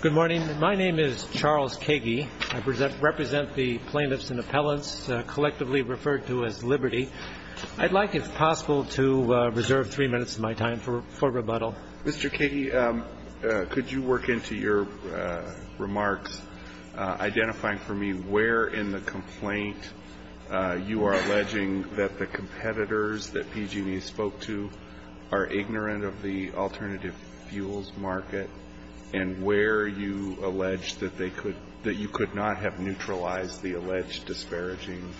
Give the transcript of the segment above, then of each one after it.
Good morning. My name is Charles Kagey. I represent the plaintiffs and appellants collectively referred to as Liberty. I'd like, if possible, to reserve three minutes of my time for rebuttal. Mr. Kagey, could you work into your remarks, identifying for me where in the complaint you are alleging that the competitors that PG&E spoke to are ignorant of the alternative fuels market, and where you allege that you could not have neutralized the alleged disparaging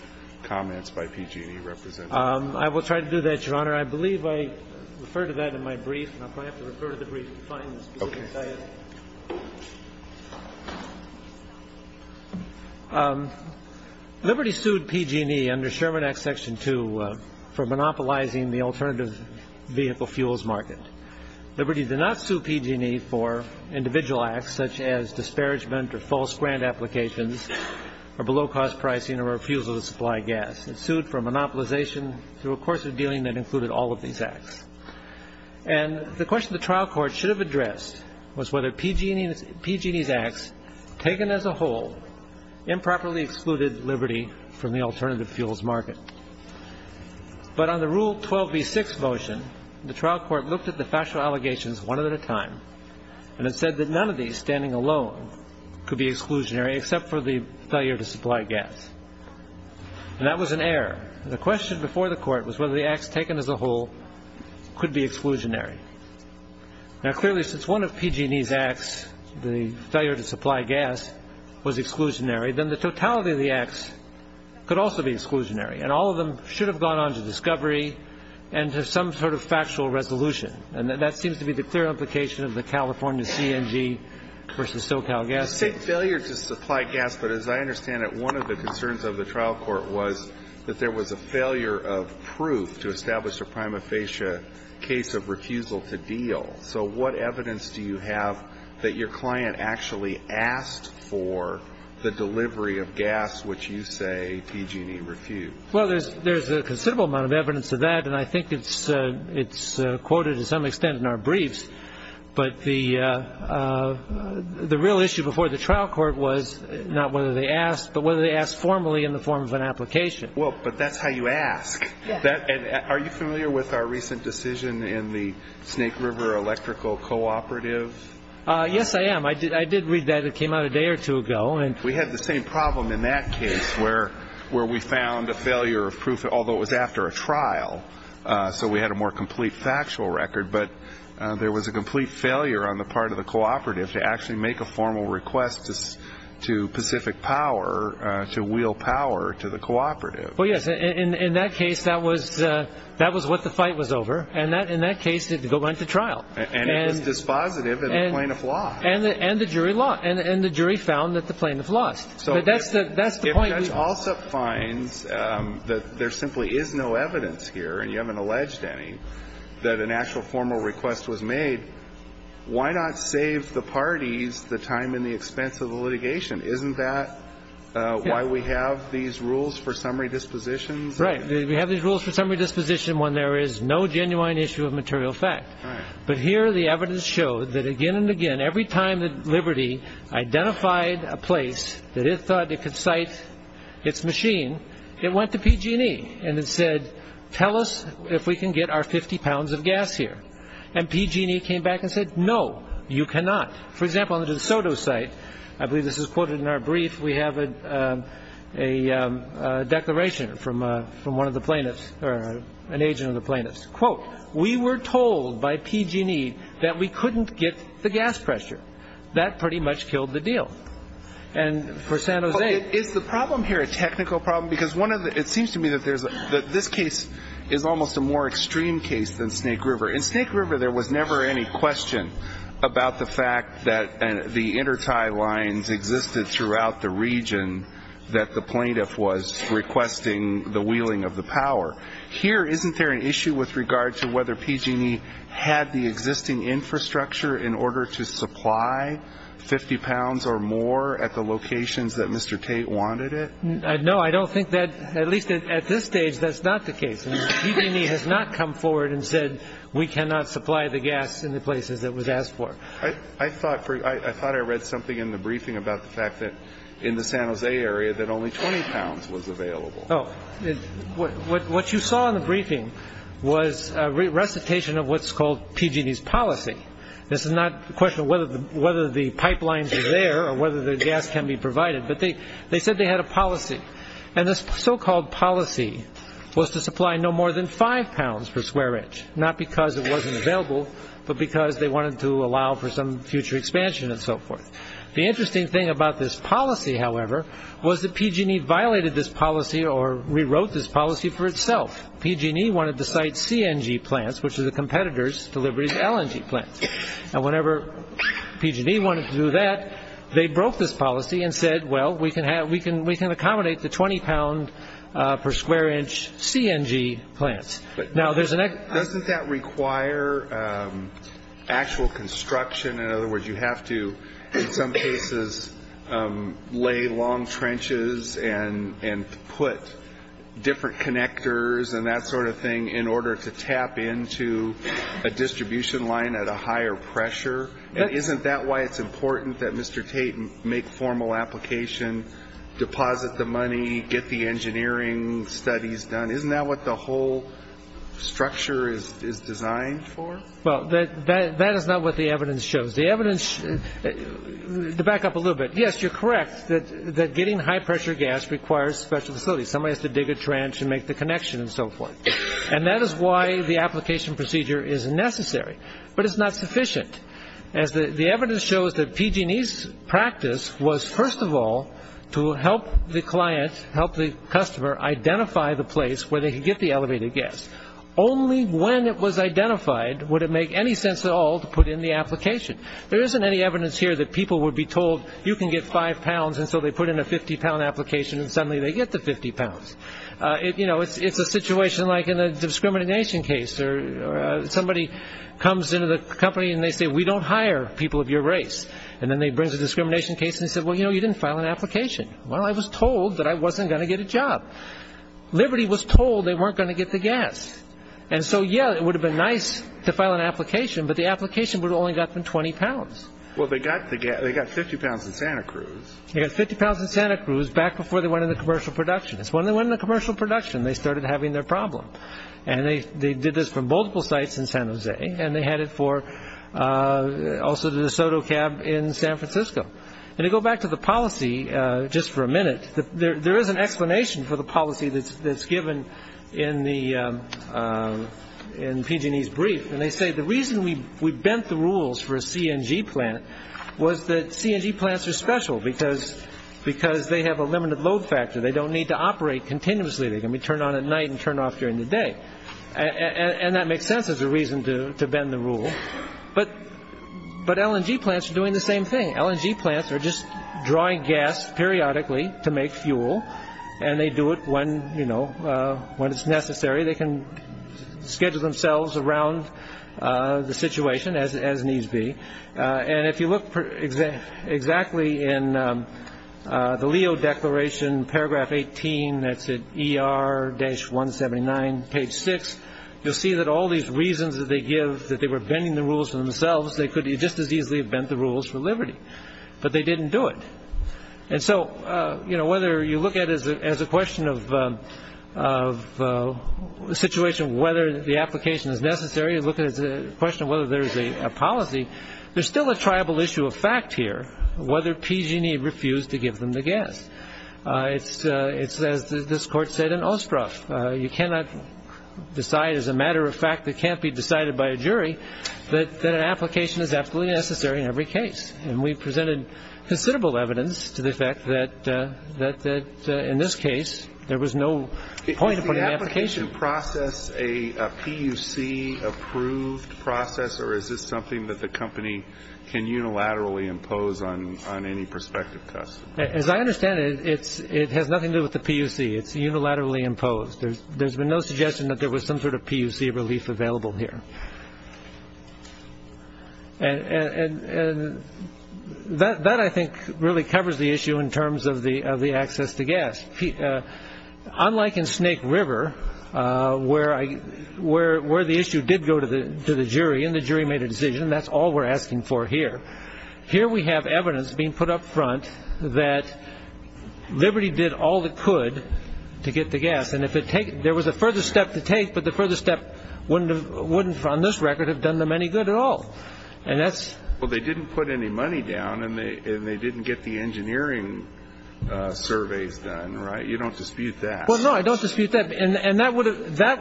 comments by PG&E representatives? I will try to do that, Your Honor. I believe I referred to that in my brief, and I'll probably have to refer to the brief to find the specifics I have. Liberty sued PG&E under Sherman Act Section 2 for monopolizing the alternative vehicle fuels market. Liberty did not sue PG&E for individual acts such as disparagement or false grant applications or below-cost pricing or refusal to supply gas. It sued for monopolization through a course of dealing that included all of these acts. And the question the trial court should have addressed was whether PG&E's acts, taken as a whole, improperly excluded Liberty from the alternative fuels market. But on the Rule 12b-6 motion, the trial court looked at the factual allegations one at a time and it said that none of these, standing alone, could be exclusionary except for the failure to supply gas. And that was an error. The question before the court was whether the acts taken as a whole could be exclusionary. Now, clearly, since one of PG&E's acts, the failure to supply gas, was exclusionary, then the totality of the acts could also be exclusionary. And all of them should have gone on to discovery and to some sort of factual resolution. And that seems to be the clear implication of the California CNG v. SoCal Gas. I say failure to supply gas, but as I understand it, one of the concerns of the trial court was that there was a failure of proof to establish a prima facie case of refusal to deal. So what evidence do you have that your client actually asked for the delivery of gas, which you say PG&E refused? Well, there's a considerable amount of evidence of that, and I think it's quoted to some extent in our briefs. But the real issue before the trial court was not whether they asked, but whether they asked formally in the form of an application. Well, but that's how you ask. Are you familiar with our recent decision in the Snake River Electrical Cooperative? Yes, I am. I did read that. It came out a day or two ago. We had the same problem in that case where we found a failure of proof, although it was after a trial. So we had a more complete factual record. But there was a complete failure on the part of the cooperative to actually make a formal request to Pacific Power to wheel power to the cooperative. Well, yes, in that case, that was what the fight was over. And in that case, it went to trial. And it was dispositive of the plaintiff lost. And the jury lost. And the jury found that the plaintiff lost. But that's the point. If Judge Alsup finds that there simply is no evidence here, and you haven't alleged any, that an actual formal request was made, why not save the parties the time and the expense of the litigation? Isn't that why we have these rules for summary dispositions? Right. We have these rules for summary disposition when there is no genuine issue of material fact. Right. But here the evidence showed that again and again, every time that Liberty identified a place that it thought it could cite its machine, it went to PG&E and it said, tell us if we can get our 50 pounds of gas here. And PG&E came back and said, no, you cannot. For example, on the DeSoto site, I believe this is quoted in our brief, we have a declaration from one of the plaintiffs or an agent of the plaintiffs. Quote, we were told by PG&E that we couldn't get the gas pressure. That pretty much killed the deal. And for San Jose. Is the problem here a technical problem? Because it seems to me that this case is almost a more extreme case than Snake River. In Snake River there was never any question about the fact that the intertie lines existed throughout the region that the plaintiff was requesting the wheeling of the power. Here, isn't there an issue with regard to whether PG&E had the existing infrastructure in order to supply 50 pounds or more at the locations that Mr. Tate wanted it? No, I don't think that, at least at this stage, that's not the case. PG&E has not come forward and said we cannot supply the gas in the places it was asked for. I thought I read something in the briefing about the fact that in the San Jose area that only 20 pounds was available. What you saw in the briefing was a recitation of what's called PG&E's policy. This is not a question of whether the pipelines are there or whether the gas can be provided, but they said they had a policy. And this so-called policy was to supply no more than five pounds per square inch, not because it wasn't available, but because they wanted to allow for some future expansion and so forth. The interesting thing about this policy, however, was that PG&E violated this policy or rewrote this policy for itself. PG&E wanted to site CNG plants, which are the competitors to Liberty's LNG plants. And whenever PG&E wanted to do that, they broke this policy and said, well, we can accommodate the 20 pound per square inch CNG plants. Doesn't that require actual construction? In other words, you have to, in some cases, lay long trenches and put different connectors and that sort of thing in order to tap into a distribution line at a higher pressure. Isn't that why it's important that Mr. Tate make formal application, deposit the money, get the engineering studies done? Isn't that what the whole structure is designed for? Well, that is not what the evidence shows. The evidence, to back up a little bit, yes, you're correct that getting high-pressure gas requires special facilities. Somebody has to dig a trench and make the connection and so forth. And that is why the application procedure is necessary. But it's not sufficient, as the evidence shows that PG&E's practice was, first of all, to help the client, help the customer identify the place where they could get the elevated gas. Only when it was identified would it make any sense at all to put in the application. There isn't any evidence here that people would be told you can get five pounds and so they put in a 50 pound application and suddenly they get the 50 pounds. It's a situation like in a discrimination case. Somebody comes into the company and they say, we don't hire people of your race. And then they bring a discrimination case and say, well, you know, you didn't file an application. Well, I was told that I wasn't going to get a job. Liberty was told they weren't going to get the gas. And so, yeah, it would have been nice to file an application, but the application would have only gotten them 20 pounds. Well, they got 50 pounds in Santa Cruz. They got 50 pounds in Santa Cruz back before they went into commercial production. It's when they went into commercial production they started having their problem. And they did this from multiple sites in San Jose. And they had it for also the DeSoto Cab in San Francisco. And to go back to the policy, just for a minute, there is an explanation for the policy that's given in PG&E's brief. And they say the reason we bent the rules for a CNG plant was that CNG plants are special because they have a limited load factor. They don't need to operate continuously. They can be turned on at night and turned off during the day. And that makes sense as a reason to bend the rule. But LNG plants are doing the same thing. LNG plants are just drawing gas periodically to make fuel. And they do it when it's necessary. They can schedule themselves around the situation as needs be. And if you look exactly in the Leo Declaration, paragraph 18, that's at ER-179, page 6, you'll see that all these reasons that they give that they were bending the rules for themselves, they could just as easily have bent the rules for Liberty. But they didn't do it. And so, you know, whether you look at it as a question of the situation, whether the application is necessary, or you look at it as a question of whether there is a policy, there's still a tribal issue of fact here, whether PG&E refused to give them the gas. It's, as this Court said in Ostruff, you cannot decide as a matter of fact that can't be decided by a jury that an application is absolutely necessary in every case. And we presented considerable evidence to the effect that in this case there was no point in putting an application. Did you process a PUC-approved process, or is this something that the company can unilaterally impose on any prospective test? As I understand it, it has nothing to do with the PUC. It's unilaterally imposed. There's been no suggestion that there was some sort of PUC relief available here. And that, I think, really covers the issue in terms of the access to gas. Unlike in Snake River, where the issue did go to the jury, and the jury made a decision, that's all we're asking for here. Here we have evidence being put up front that Liberty did all it could to get the gas, and there was a further step to take, but the further step wouldn't, on this record, have done them any good at all. Well, they didn't put any money down, and they didn't get the engineering surveys done, right? You don't dispute that. Well, no, I don't dispute that. And that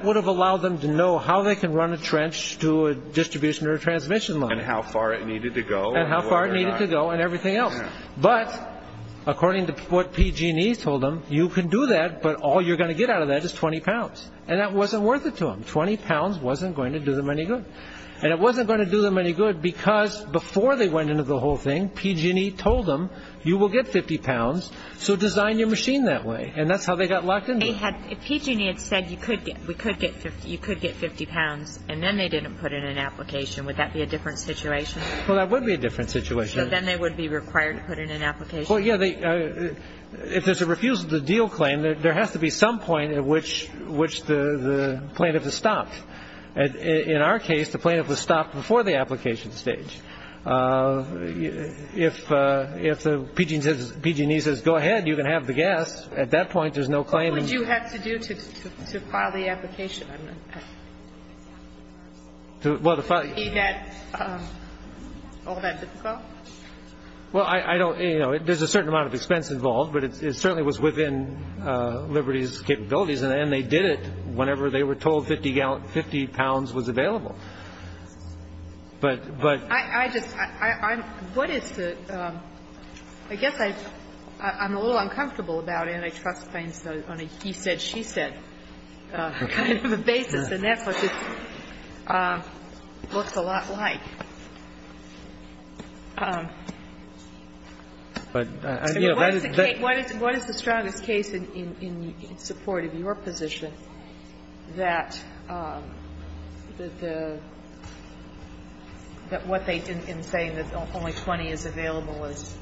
would have allowed them to know how they can run a trench to a distribution or a transmission line. And how far it needed to go. And how far it needed to go, and everything else. But according to what PG&E told them, you can do that, but all you're going to get out of that is 20 pounds. And that wasn't worth it to them. Twenty pounds wasn't going to do them any good. And it wasn't going to do them any good because before they went into the whole thing, PG&E told them, you will get 50 pounds, so design your machine that way. And that's how they got locked into it. If PG&E had said, you could get 50 pounds, and then they didn't put in an application, would that be a different situation? Well, that would be a different situation. So then they would be required to put in an application? Well, yeah, if there's a refusal to deal claim, there has to be some point at which the plaintiff is stopped. In our case, the plaintiff was stopped before the application stage. If PG&E says, go ahead, you can have the gas, at that point there's no claim. What would you have to do to file the application? Would it be all that difficult? Well, there's a certain amount of expense involved, but it certainly was within Liberty's capabilities. And they did it whenever they were told 50 pounds was available. But I just, what is the, I guess I'm a little uncomfortable about antitrust claims on a he said, she said kind of a basis, and that's what this looks a lot like. What is the strongest case in support of your position that the, that what they, in saying that only 20 is available is,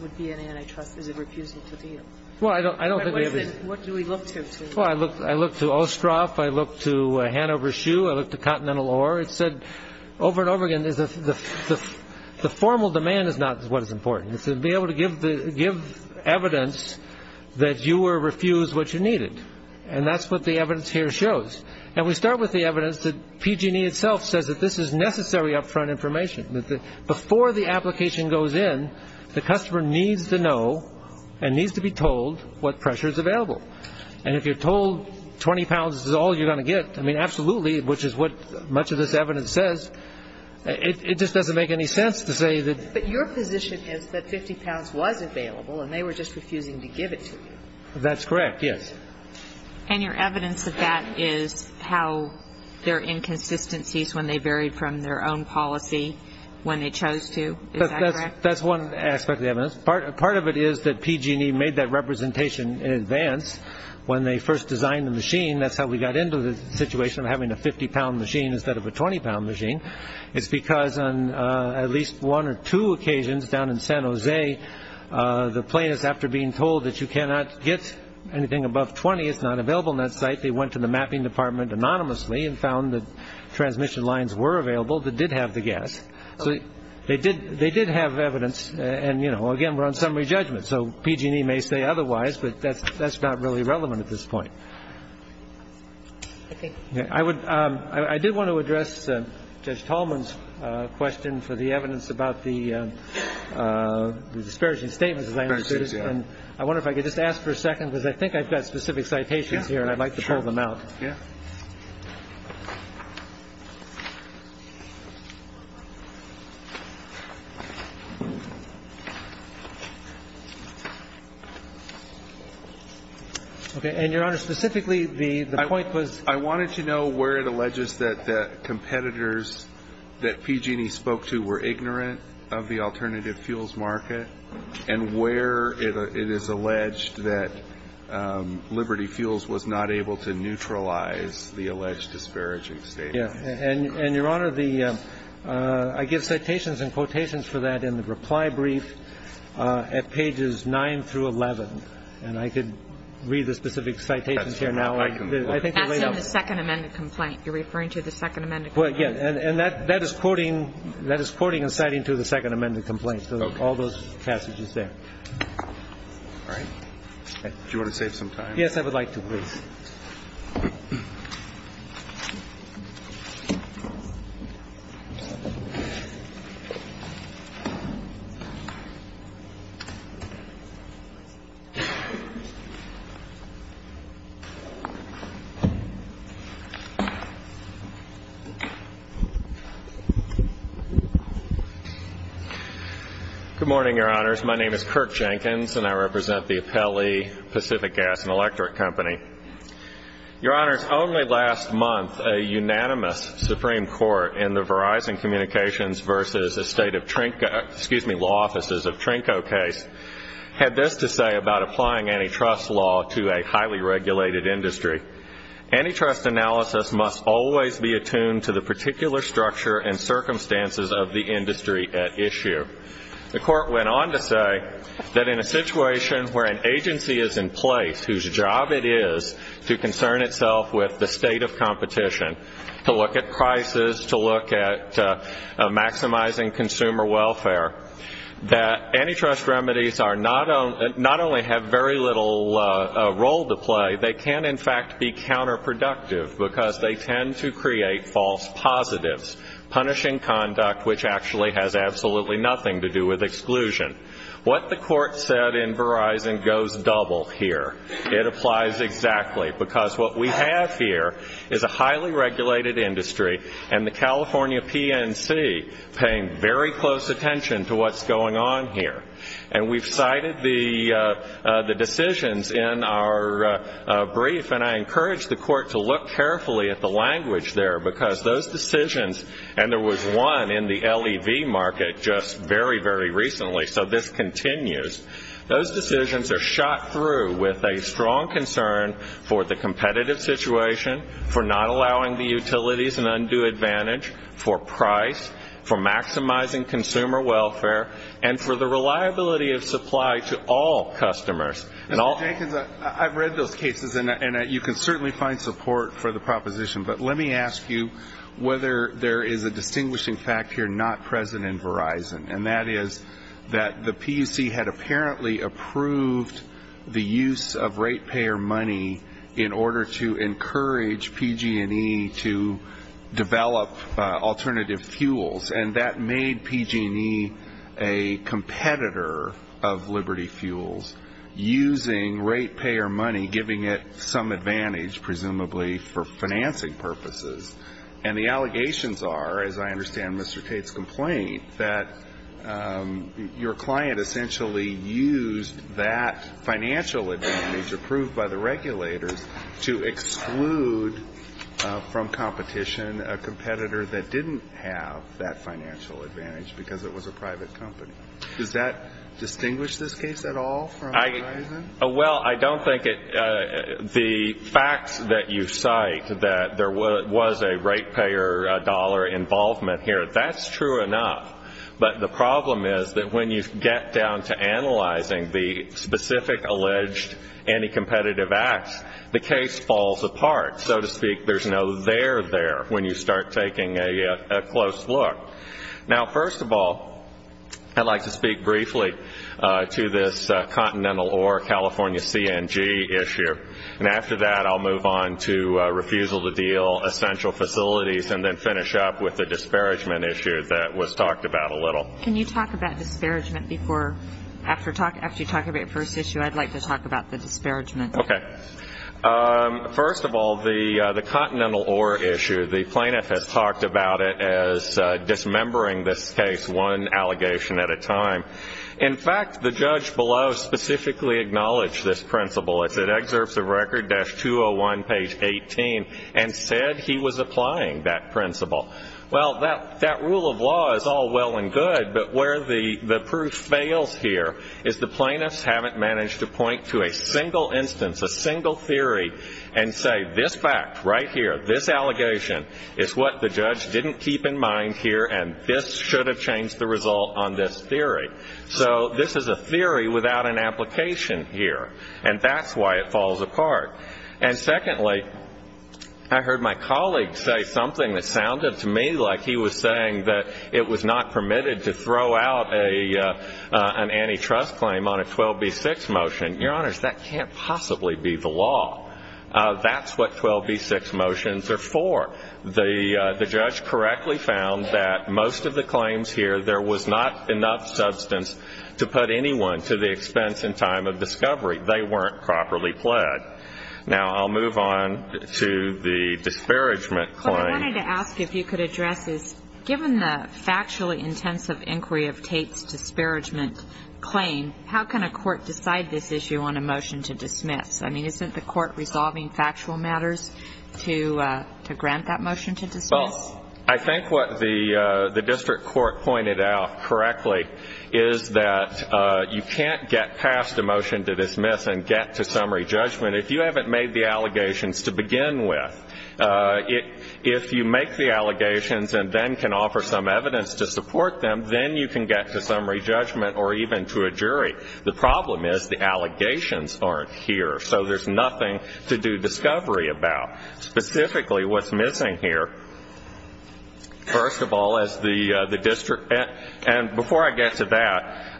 would be an antitrust, is a refusal to deal? Well, I don't think we have a. What do we look to? Well, I look to Ostroff, I look to Hanover Shoe, I look to Continental Ore. It said over and over again, the formal demand is not what is important. It's to be able to give evidence that you were refused what you needed. And that's what the evidence here shows. And we start with the evidence that PG&E itself says that this is necessary upfront information. Before the application goes in, the customer needs to know and needs to be told what pressure is available. And if you're told 20 pounds is all you're going to get, I mean, absolutely, which is what much of this evidence says, it just doesn't make any sense to say that. But your position is that 50 pounds was available, and they were just refusing to give it to you. That's correct, yes. And your evidence of that is how their inconsistencies, when they varied from their own policy when they chose to, is that correct? That's one aspect of the evidence. When they first designed the machine, that's how we got into the situation of having a 50-pound machine instead of a 20-pound machine. It's because on at least one or two occasions down in San Jose, the plaintiffs, after being told that you cannot get anything above 20, it's not available on that site, they went to the mapping department anonymously and found that transmission lines were available that did have the gas. So they did have evidence. And, you know, again, we're on summary judgment. So PG&E may say otherwise, but that's not really relevant at this point. I did want to address Judge Tolman's question for the evidence about the disparaging statements, as I understood it. And I wonder if I could just ask for a second, because I think I've got specific citations here, and I'd like to pull them out. Yeah. Okay. And, Your Honor, specifically, the point was? I wanted to know where it alleges that the competitors that PG&E spoke to were ignorant of the alternative fuels market and where it is alleged that Liberty Fuels was not able to neutralize the alleged disparaging statements. Yeah. And, Your Honor, the ‑‑ I give citations and quotations for that in the reply brief at pages 9 through 11. And I could read the specific citations here now. That's in the second amended complaint. You're referring to the second amended complaint? Well, yeah. And that is quoting and citing to the second amended complaint. All those passages there. All right. Do you want to save some time? Yes, I would like to, please. Good morning, Your Honors. My name is Kirk Jenkins, and I represent the Apelli Pacific Gas and Electric Company. Your Honors, only last month, a unanimous Supreme Court in the Verizon Communications versus the State of Trinco, excuse me, law offices of Trinco case, had this to say about applying antitrust law to a highly regulated industry. Antitrust analysis must always be attuned to the particular structure and circumstances of the industry at issue. The Court went on to say that in a situation where an agency is in place, whose job it is to concern itself with the state of competition, to look at prices, to look at maximizing consumer welfare, that antitrust remedies not only have very little role to play, they can, in fact, be counterproductive because they tend to create false positives, punishing conduct which actually has absolutely nothing to do with exclusion. What the Court said in Verizon goes double here. It applies exactly because what we have here is a highly regulated industry and the California PNC paying very close attention to what's going on here. And we've cited the decisions in our brief, and I encourage the Court to look carefully at the language there because those decisions, and there was one in the LEV market just very, very recently, so this continues. Those decisions are shot through with a strong concern for the competitive situation, for not allowing the utilities an undue advantage, for price, for maximizing consumer welfare, and for the reliability of supply to all customers. Mr. Jenkins, I've read those cases, and you can certainly find support for the proposition, but let me ask you whether there is a distinguishing fact here not present in Verizon, and that is that the PUC had apparently approved the use of ratepayer money in order to encourage PG&E to develop alternative fuels, and that made PG&E a competitor of Liberty Fuels, using ratepayer money, giving it some advantage, presumably for financing purposes. And the allegations are, as I understand Mr. Tate's complaint, that your client essentially used that financial advantage approved by the regulators to exclude from competition a competitor that didn't have that financial advantage because it was a private company. Does that distinguish this case at all from Verizon? Well, I don't think it. The facts that you cite, that there was a ratepayer dollar involvement here, that's true enough, but the problem is that when you get down to analyzing the specific alleged anti-competitive acts, the case falls apart, so to speak. There's no there there when you start taking a close look. Now, first of all, I'd like to speak briefly to this Continental Ore California CNG issue, and after that I'll move on to refusal to deal essential facilities and then finish up with the disparagement issue that was talked about a little. Can you talk about disparagement before? After you talk about your first issue, I'd like to talk about the disparagement. Okay. First of all, the Continental Ore issue, the plaintiff has talked about it as dismembering this case one allegation at a time. In fact, the judge below specifically acknowledged this principle. It's in excerpts of Record-201, page 18, and said he was applying that principle. Well, that rule of law is all well and good, but where the proof fails here is the plaintiffs haven't managed to point to a single instance, a single theory, and say this fact right here, this allegation is what the judge didn't keep in mind here and this should have changed the result on this theory. So this is a theory without an application here, and that's why it falls apart. And secondly, I heard my colleague say something that sounded to me like he was saying that it was not permitted to throw out an antitrust claim on a 12b-6 motion. Your Honors, that can't possibly be the law. That's what 12b-6 motions are for. The judge correctly found that most of the claims here, there was not enough substance to put anyone to the expense and time of discovery. They weren't properly pled. Now I'll move on to the disparagement claim. What I wanted to ask if you could address is, given the factually intensive inquiry of Tate's disparagement claim, how can a court decide this issue on a motion to dismiss? I mean, isn't the court resolving factual matters to grant that motion to dismiss? Well, I think what the district court pointed out correctly is that you can't get past a motion to dismiss and get to summary judgment if you haven't made the allegations to begin with. If you make the allegations and then can offer some evidence to support them, then you can get to summary judgment or even to a jury. The problem is the allegations aren't here, so there's nothing to do discovery about. Specifically, what's missing here, first of all, is the district. And before I get to that,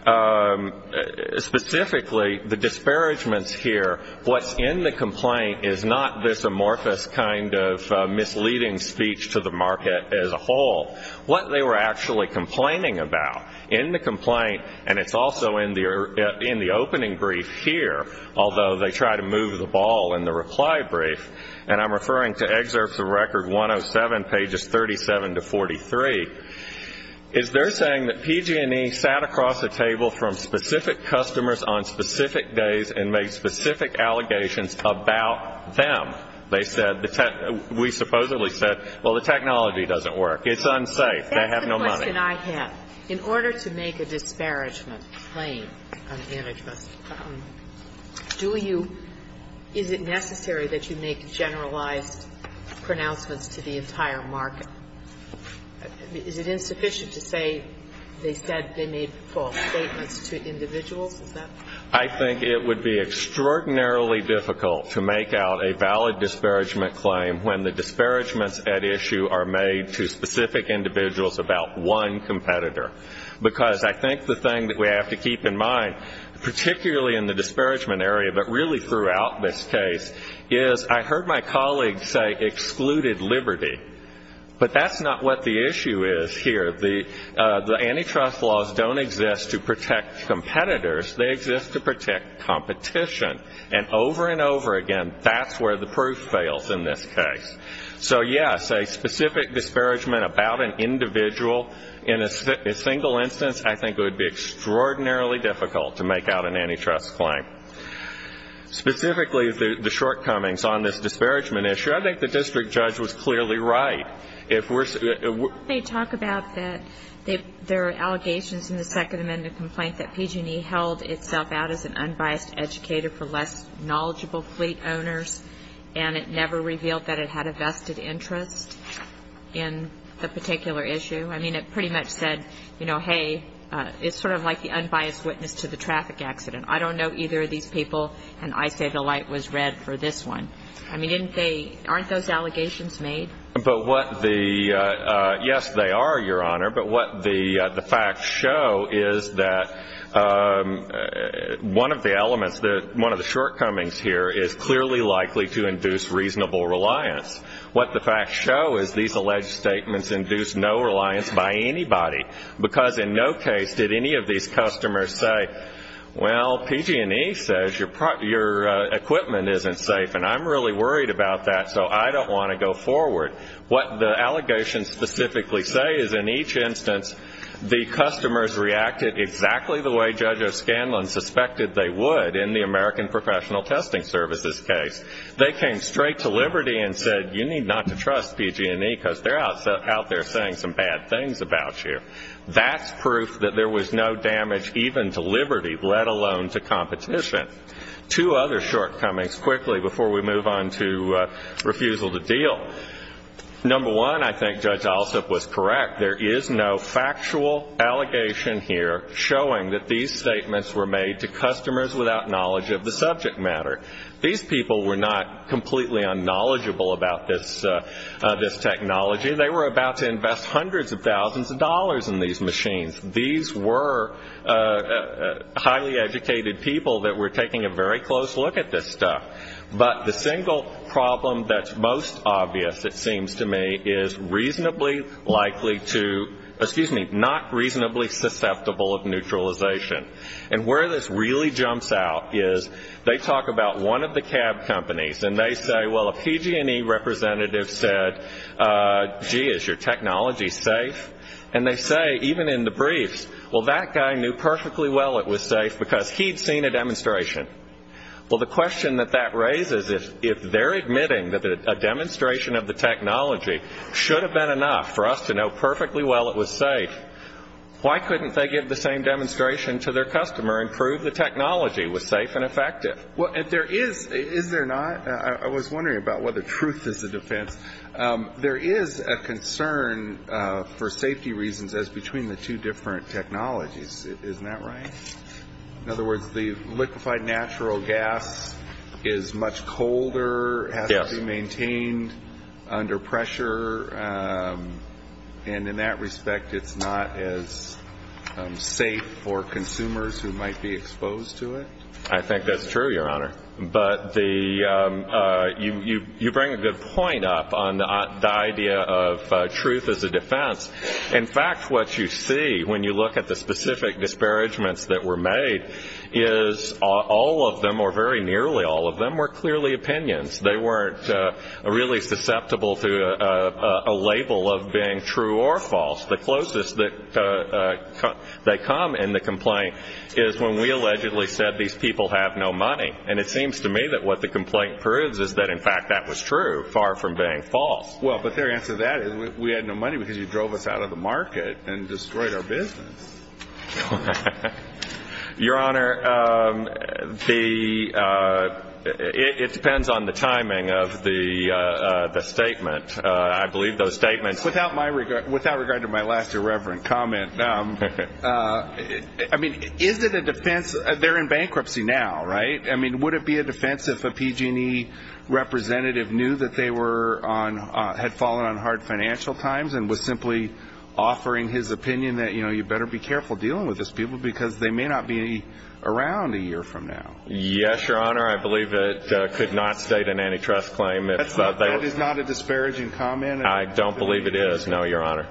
specifically, the disparagements here, what's in the complaint is not this amorphous kind of misleading speech to the market as a whole. What they were actually complaining about in the complaint, and it's also in the opening brief here, although they try to move the ball in the reply brief, and I'm referring to excerpts of Record 107, pages 37 to 43, is they're saying that PG&E sat across the table from specific customers on specific days and made specific allegations about them. They said, we supposedly said, well, the technology doesn't work. It's unsafe. They have no money. That's the question I have. In order to make a disparagement claim on antitrust, do you ñ is it necessary that you make generalized pronouncements to the entire market? Is it insufficient to say they said they made false statements to individuals? Is that? I think it would be extraordinarily difficult to make out a valid disparagement claim when the disparagements at issue are made to specific individuals about one competitor. Because I think the thing that we have to keep in mind, particularly in the disparagement area but really throughout this case, is I heard my colleagues say excluded liberty. But that's not what the issue is here. The antitrust laws don't exist to protect competitors. They exist to protect competition. And over and over again, that's where the proof fails in this case. So, yes, a specific disparagement about an individual in a single instance, I think it would be extraordinarily difficult to make out an antitrust claim. Specifically, the shortcomings on this disparagement issue, I think the district judge was clearly right. They talk about that there are allegations in the Second Amendment complaint that PG&E held itself out as an unbiased educator for less knowledgeable fleet owners and it never revealed that it had a vested interest in the particular issue. I mean, it pretty much said, you know, hey, it's sort of like the unbiased witness to the traffic accident. I don't know either of these people, and I say the light was red for this one. I mean, aren't those allegations made? Yes, they are, Your Honor. But what the facts show is that one of the elements, one of the shortcomings here is clearly likely to induce reasonable reliance. What the facts show is these alleged statements induce no reliance by anybody because in no case did any of these customers say, well, PG&E says your equipment isn't safe, and I'm really worried about that, so I don't want to go forward. What the allegations specifically say is in each instance, the customers reacted exactly the way Judge O'Scanlan suspected they would in the American Professional Testing Services case. They came straight to Liberty and said you need not to trust PG&E because they're out there saying some bad things about you. That's proof that there was no damage even to Liberty, let alone to competition. Two other shortcomings quickly before we move on to refusal to deal. Number one, I think Judge Alsup was correct. There is no factual allegation here showing that these statements were made to customers without knowledge of the subject matter. These people were not completely unknowledgeable about this technology. They were about to invest hundreds of thousands of dollars in these machines. These were highly educated people that were taking a very close look at this stuff. But the single problem that's most obvious, it seems to me, is not reasonably susceptible of neutralization. And where this really jumps out is they talk about one of the cab companies, and they say, well, a PG&E representative said, gee, is your technology safe? And they say, even in the briefs, well, that guy knew perfectly well it was safe because he'd seen a demonstration. Well, the question that that raises is if they're admitting that a demonstration of the technology should have been enough for us to know perfectly well it was safe, why couldn't they give the same demonstration to their customer and prove the technology was safe and effective? Well, if there is, is there not? I was wondering about whether truth is a defense. There is a concern for safety reasons as between the two different technologies. Isn't that right? In other words, the liquefied natural gas is much colder, has to be maintained under pressure, and in that respect it's not as safe for consumers who might be exposed to it? I think that's true, Your Honor. But you bring a good point up on the idea of truth as a defense. In fact, what you see when you look at the specific disparagements that were made is all of them or very nearly all of them were clearly opinions. They weren't really susceptible to a label of being true or false. The closest they come in the complaint is when we allegedly said these people have no money, and it seems to me that what the complaint proves is that, in fact, that was true, far from being false. Well, but their answer to that is we had no money because you drove us out of the market and destroyed our business. Your Honor, it depends on the timing of the statement. Without regard to my last irreverent comment, I mean, is it a defense? They're in bankruptcy now, right? I mean, would it be a defense if a PG&E representative knew that they had fallen on hard financial times and was simply offering his opinion that, you know, you better be careful dealing with these people because they may not be around a year from now? Yes, Your Honor, I believe it could not state an antitrust claim. That is not a disparaging comment? I don't believe it is, no, Your Honor.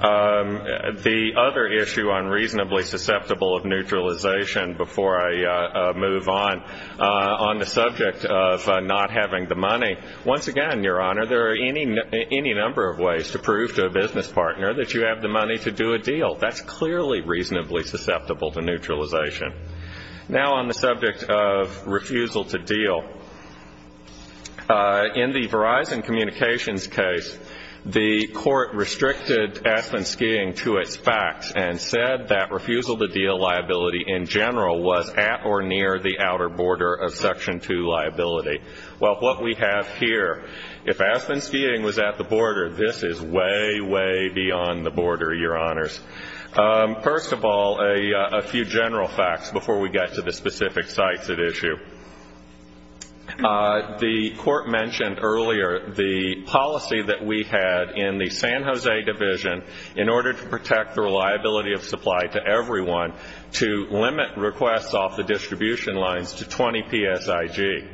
The other issue on reasonably susceptible of neutralization before I move on, on the subject of not having the money, once again, Your Honor, there are any number of ways to prove to a business partner that you have the money to do a deal. That's clearly reasonably susceptible to neutralization. Now on the subject of refusal to deal. In the Verizon Communications case, the court restricted Aspen Skiing to its facts and said that refusal to deal liability in general was at or near the outer border of Section 2 liability. Well, what we have here, if Aspen Skiing was at the border, this is way, way beyond the border, Your Honors. First of all, a few general facts before we get to the specific sites at issue. The court mentioned earlier the policy that we had in the San Jose Division in order to protect the reliability of supply to everyone to limit requests off the distribution lines to 20 PSIG.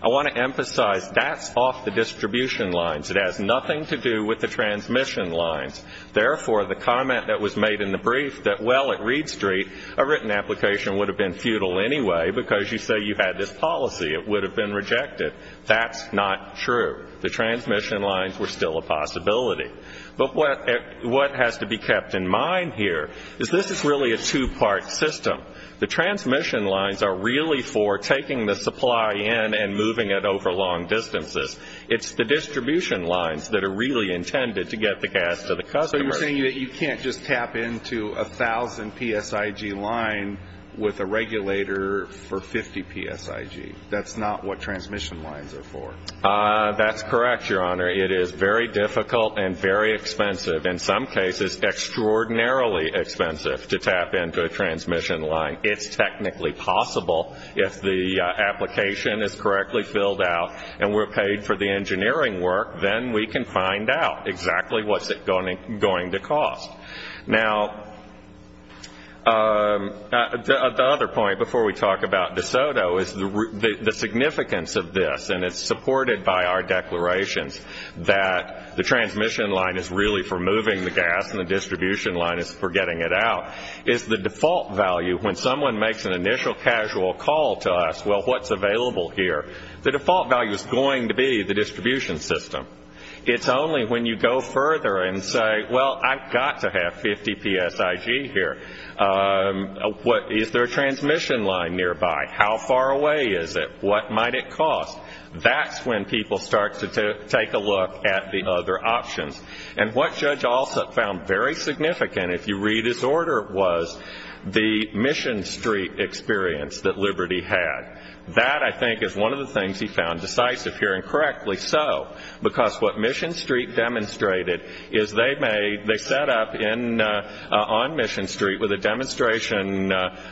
I want to emphasize that's off the distribution lines. It has nothing to do with the transmission lines. Therefore, the comment that was made in the brief that, well, at Reed Street, a written application would have been futile anyway because you say you had this policy. It would have been rejected. That's not true. The transmission lines were still a possibility. But what has to be kept in mind here is this is really a two-part system. The transmission lines are really for taking the supply in and moving it over long distances. It's the distribution lines that are really intended to get the gas to the customer. So you're saying that you can't just tap into a 1,000 PSIG line with a regulator for 50 PSIG. That's not what transmission lines are for. That's correct, Your Honor. It is very difficult and very expensive, in some cases extraordinarily expensive, to tap into a transmission line. It's technically possible if the application is correctly filled out and we're paid for the engineering work, then we can find out exactly what's it going to cost. Now, the other point before we talk about DeSoto is the significance of this, and it's supported by our declarations that the transmission line is really for moving the gas and the distribution line is for getting it out, is the default value when someone makes an initial casual call to us. Well, what's available here? The default value is going to be the distribution system. It's only when you go further and say, well, I've got to have 50 PSIG here. Is there a transmission line nearby? How far away is it? What might it cost? That's when people start to take a look at the other options. And what Judge Alsup found very significant, if you read his order, was the Mission Street experience that Liberty had. That, I think, is one of the things he found decisive here, and correctly so, because what Mission Street demonstrated is they set up on Mission Street with a demonstration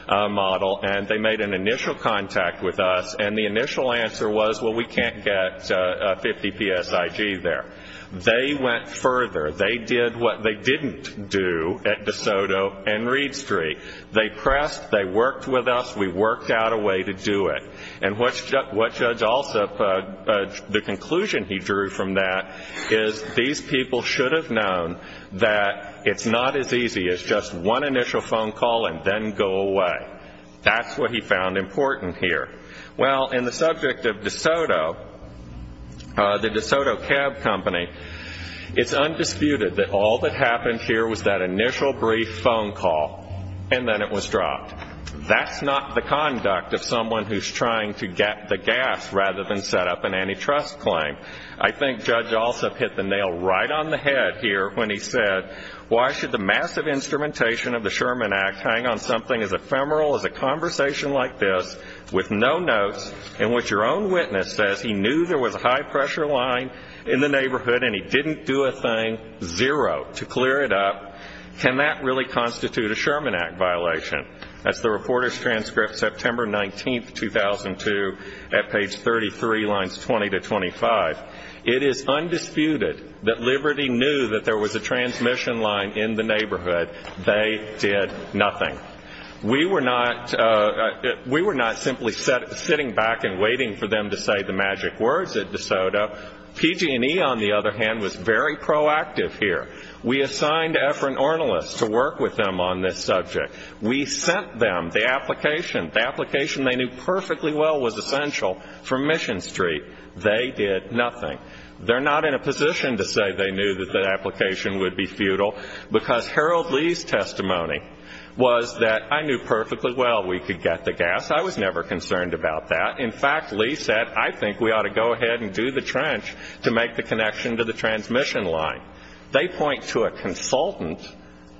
model and they made an initial contact with us, and the initial answer was, well, we can't get 50 PSIG there. They went further. They did what they didn't do at DeSoto and Reed Street. They pressed. They worked with us. We worked out a way to do it. And what Judge Alsup, the conclusion he drew from that, is these people should have known that it's not as easy as just one initial phone call and then go away. That's what he found important here. Well, in the subject of DeSoto, the DeSoto Cab Company, it's undisputed that all that happened here was that initial brief phone call, and then it was dropped. That's not the conduct of someone who's trying to get the gas rather than set up an antitrust claim. I think Judge Alsup hit the nail right on the head here when he said, why should the massive instrumentation of the Sherman Act hang on something as ephemeral as a conversation like this, with no notes, and what your own witness says, he knew there was a high-pressure line in the neighborhood, and he didn't do a thing, zero, to clear it up. Can that really constitute a Sherman Act violation? That's the reporter's transcript, September 19, 2002, at page 33, lines 20 to 25. It is undisputed that Liberty knew that there was a transmission line in the neighborhood. They did nothing. We were not simply sitting back and waiting for them to say the magic words at DeSoto. PG&E, on the other hand, was very proactive here. We assigned Efren Ornelas to work with them on this subject. We sent them the application. The application they knew perfectly well was essential for Mission Street. They did nothing. They're not in a position to say they knew that the application would be futile, because Harold Lee's testimony was that I knew perfectly well we could get the gas. I was never concerned about that. In fact, Lee said, I think we ought to go ahead and do the trench to make the connection to the transmission line. They point to a consultant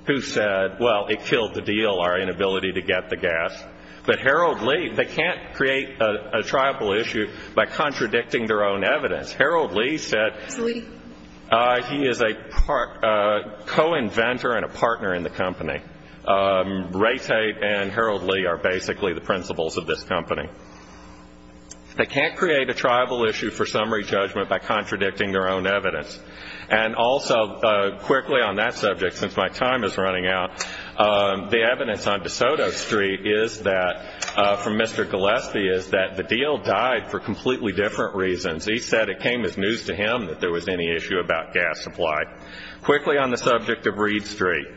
who said, well, it killed the deal, our inability to get the gas. But Harold Lee, they can't create a tribal issue by contradicting their own evidence. Harold Lee said he is a co-inventor and a partner in the company. Ray Tate and Harold Lee are basically the principals of this company. They can't create a tribal issue for summary judgment by contradicting their own evidence. And also, quickly on that subject, since my time is running out, the evidence on DeSoto Street from Mr. Gillespie is that the deal died for completely different reasons. He said it came as news to him that there was any issue about gas supply. Quickly on the subject of Reed Street,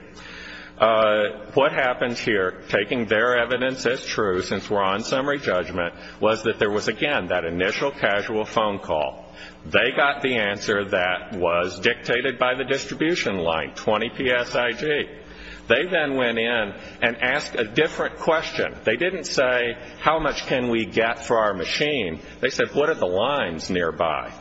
what happens here, taking their evidence as true, since we're on summary judgment, was that there was, again, that initial casual phone call. They got the answer that was dictated by the distribution line, 20 PSIG. They then went in and asked a different question. They didn't say, how much can we get for our machine? They said, what are the lines nearby?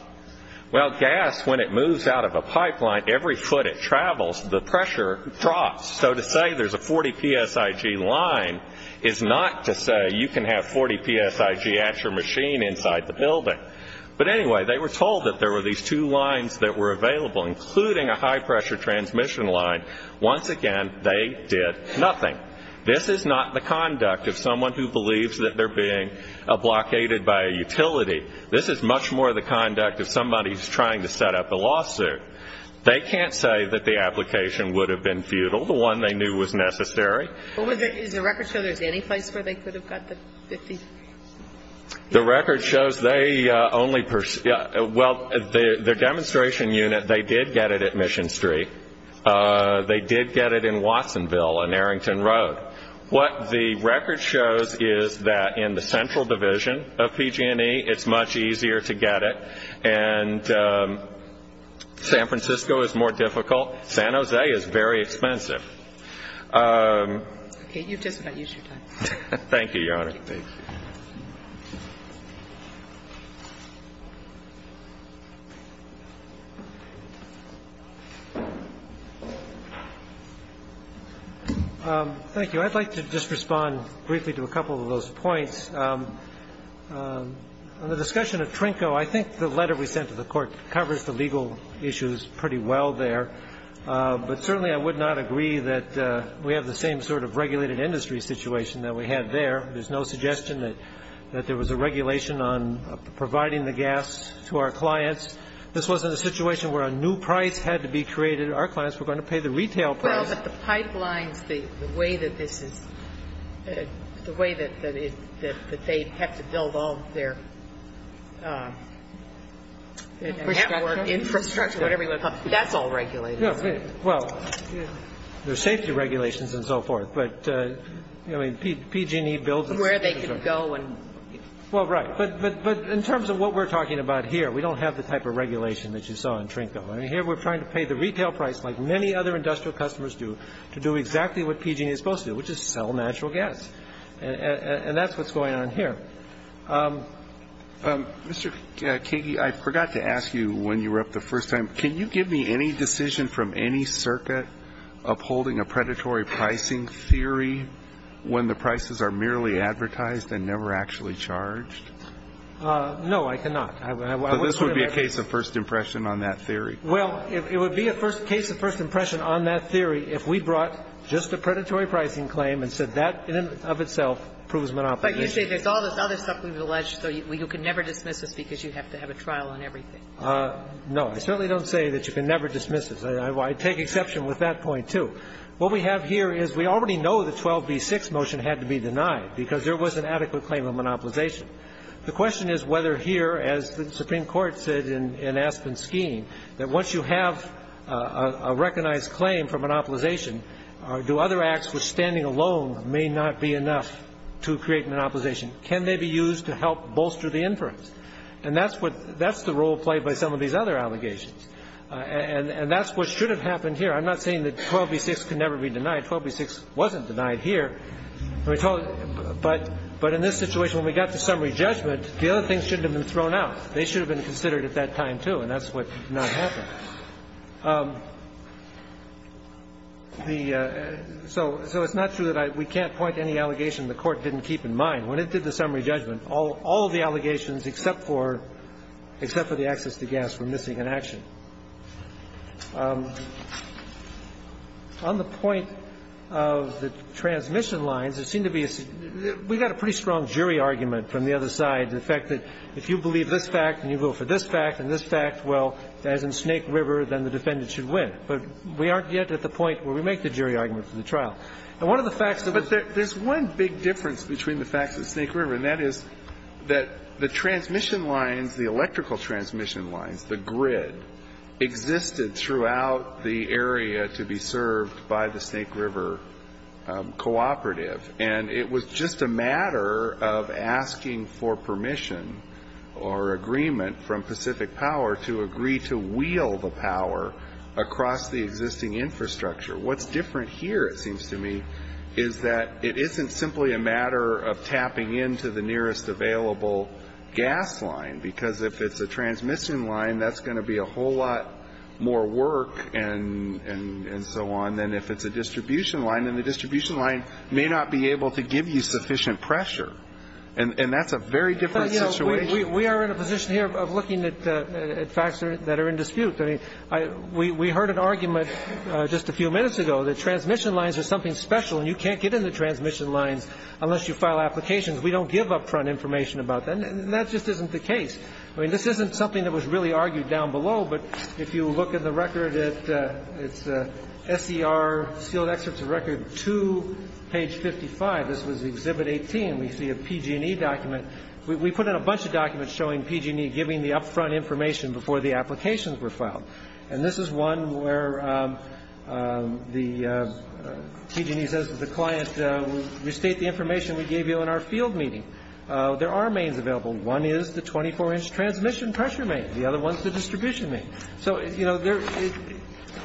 Well, gas, when it moves out of a pipeline, every foot it travels, the pressure drops. So to say there's a 40 PSIG line is not to say you can have 40 PSIG at your machine inside the building. But anyway, they were told that there were these two lines that were available, including a high-pressure transmission line. Once again, they did nothing. This is not the conduct of someone who believes that they're being blockaded by a utility. This is much more the conduct of somebody who's trying to set up a lawsuit. They can't say that the application would have been futile, the one they knew was necessary. What was it? Does the record show there's any place where they could have got the 50? The record shows they only – well, the demonstration unit, they did get it at Mission Street. They did get it in Watsonville and Arrington Road. What the record shows is that in the central division of PG&E, it's much easier to get it. And San Francisco is more difficult. San Jose is very expensive. Okay, you've just about used your time. Thank you, Your Honor. Thank you. Thank you. I'd like to just respond briefly to a couple of those points. On the discussion of Trinco, I think the letter we sent to the court covers the legal issues pretty well there. But certainly I would not agree that we have the same sort of regulated industry situation that we had there. There's no suggestion that there was a regulation on providing the gas to our clients. This wasn't a situation where a new price had to be created. Our clients were going to pay the retail price. Well, but the pipelines, the way that this is – the way that they have to build all their network, infrastructure, whatever you want to call it, that's all regulated. Well, there's safety regulations and so forth. But, I mean, PG&E builds it. Where they can go and – Well, right. But in terms of what we're talking about here, we don't have the type of regulation that you saw in Trinco. Here we're trying to pay the retail price like many other industrial customers do to do exactly what PG&E is supposed to do, which is sell natural gas. And that's what's going on here. Mr. Kage, I forgot to ask you when you were up the first time, can you give me any decision from any circuit upholding a predatory pricing theory when the prices are merely advertised and never actually charged? No, I cannot. This would be a case of first impression on that theory. Well, it would be a case of first impression on that theory if we brought just a predatory pricing claim and said that in and of itself proves monopoly. But you say there's all this other stuff we've alleged, so you can never dismiss us because you have to have a trial on everything. No. I certainly don't say that you can never dismiss us. I take exception with that point, too. What we have here is we already know the 12b-6 motion had to be denied because there was an adequate claim of monopolization. The question is whether here, as the Supreme Court said in Aspen's scheme, that once you have a recognized claim for monopolization, do other acts which standing alone may not be enough to create monopolization, can they be used to help bolster the inference? And that's the role played by some of these other allegations. And that's what should have happened here. I'm not saying that 12b-6 can never be denied. 12b-6 wasn't denied here. But in this situation, when we got to summary judgment, the other things shouldn't have been thrown out. They should have been considered at that time, too, and that's what did not happen. So it's not true that we can't point to any allegation the Court didn't keep in mind. When it did the summary judgment, all of the allegations except for the access to gas were missing in action. On the point of the transmission lines, it seemed to be a – we got a pretty strong jury argument from the other side, the fact that if you believe this fact and you vote for this fact and this fact, well, as in Snake River, then the defendant should win. But we aren't yet at the point where we make the jury argument for the trial. And one of the facts that was – But there's one big difference between the facts at Snake River, and that is that the transmission lines, the electrical transmission lines, the grid, existed throughout the area to be served by the Snake River cooperative. And it was just a matter of asking for permission or agreement from Pacific Power to agree to wheel the power across the existing infrastructure. What's different here, it seems to me, is that it isn't simply a matter of tapping into the nearest available gas line. Because if it's a transmission line, that's going to be a whole lot more work and so on than if it's a distribution line. And the distribution line may not be able to give you sufficient pressure. And that's a very different situation. But, you know, we are in a position here of looking at facts that are in dispute. I mean, we heard an argument just a few minutes ago that transmission lines are something special and you can't get in the transmission lines unless you file applications. We don't give up-front information about them. And that just isn't the case. I mean, this isn't something that was really argued down below. But if you look at the record, it's SER, sealed excerpts of record, to page 55. This was Exhibit 18. We see a PG&E document. We put in a bunch of documents showing PG&E giving the up-front information before the applications were filed. And this is one where the PG&E says that the client will restate the information we gave you in our field meeting. There are mains available. One is the 24-inch transmission pressure main. The other one is the distribution main. So, you know,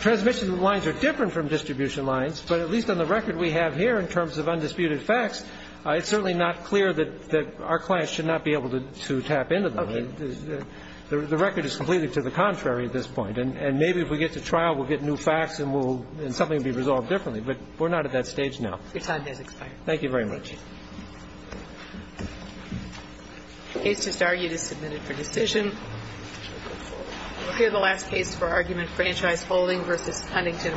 transmission lines are different from distribution lines, but at least on the record we have here in terms of undisputed facts, it's certainly not clear that our clients should not be able to tap into them. The record is completely to the contrary at this point. And maybe if we get to trial we'll get new facts and something will be resolved differently. But we're not at that stage now. Your time has expired. Thank you very much. The case just argued is submitted for decision. Here's the last case for argument. Franchise holding versus Cunnington Restaurant.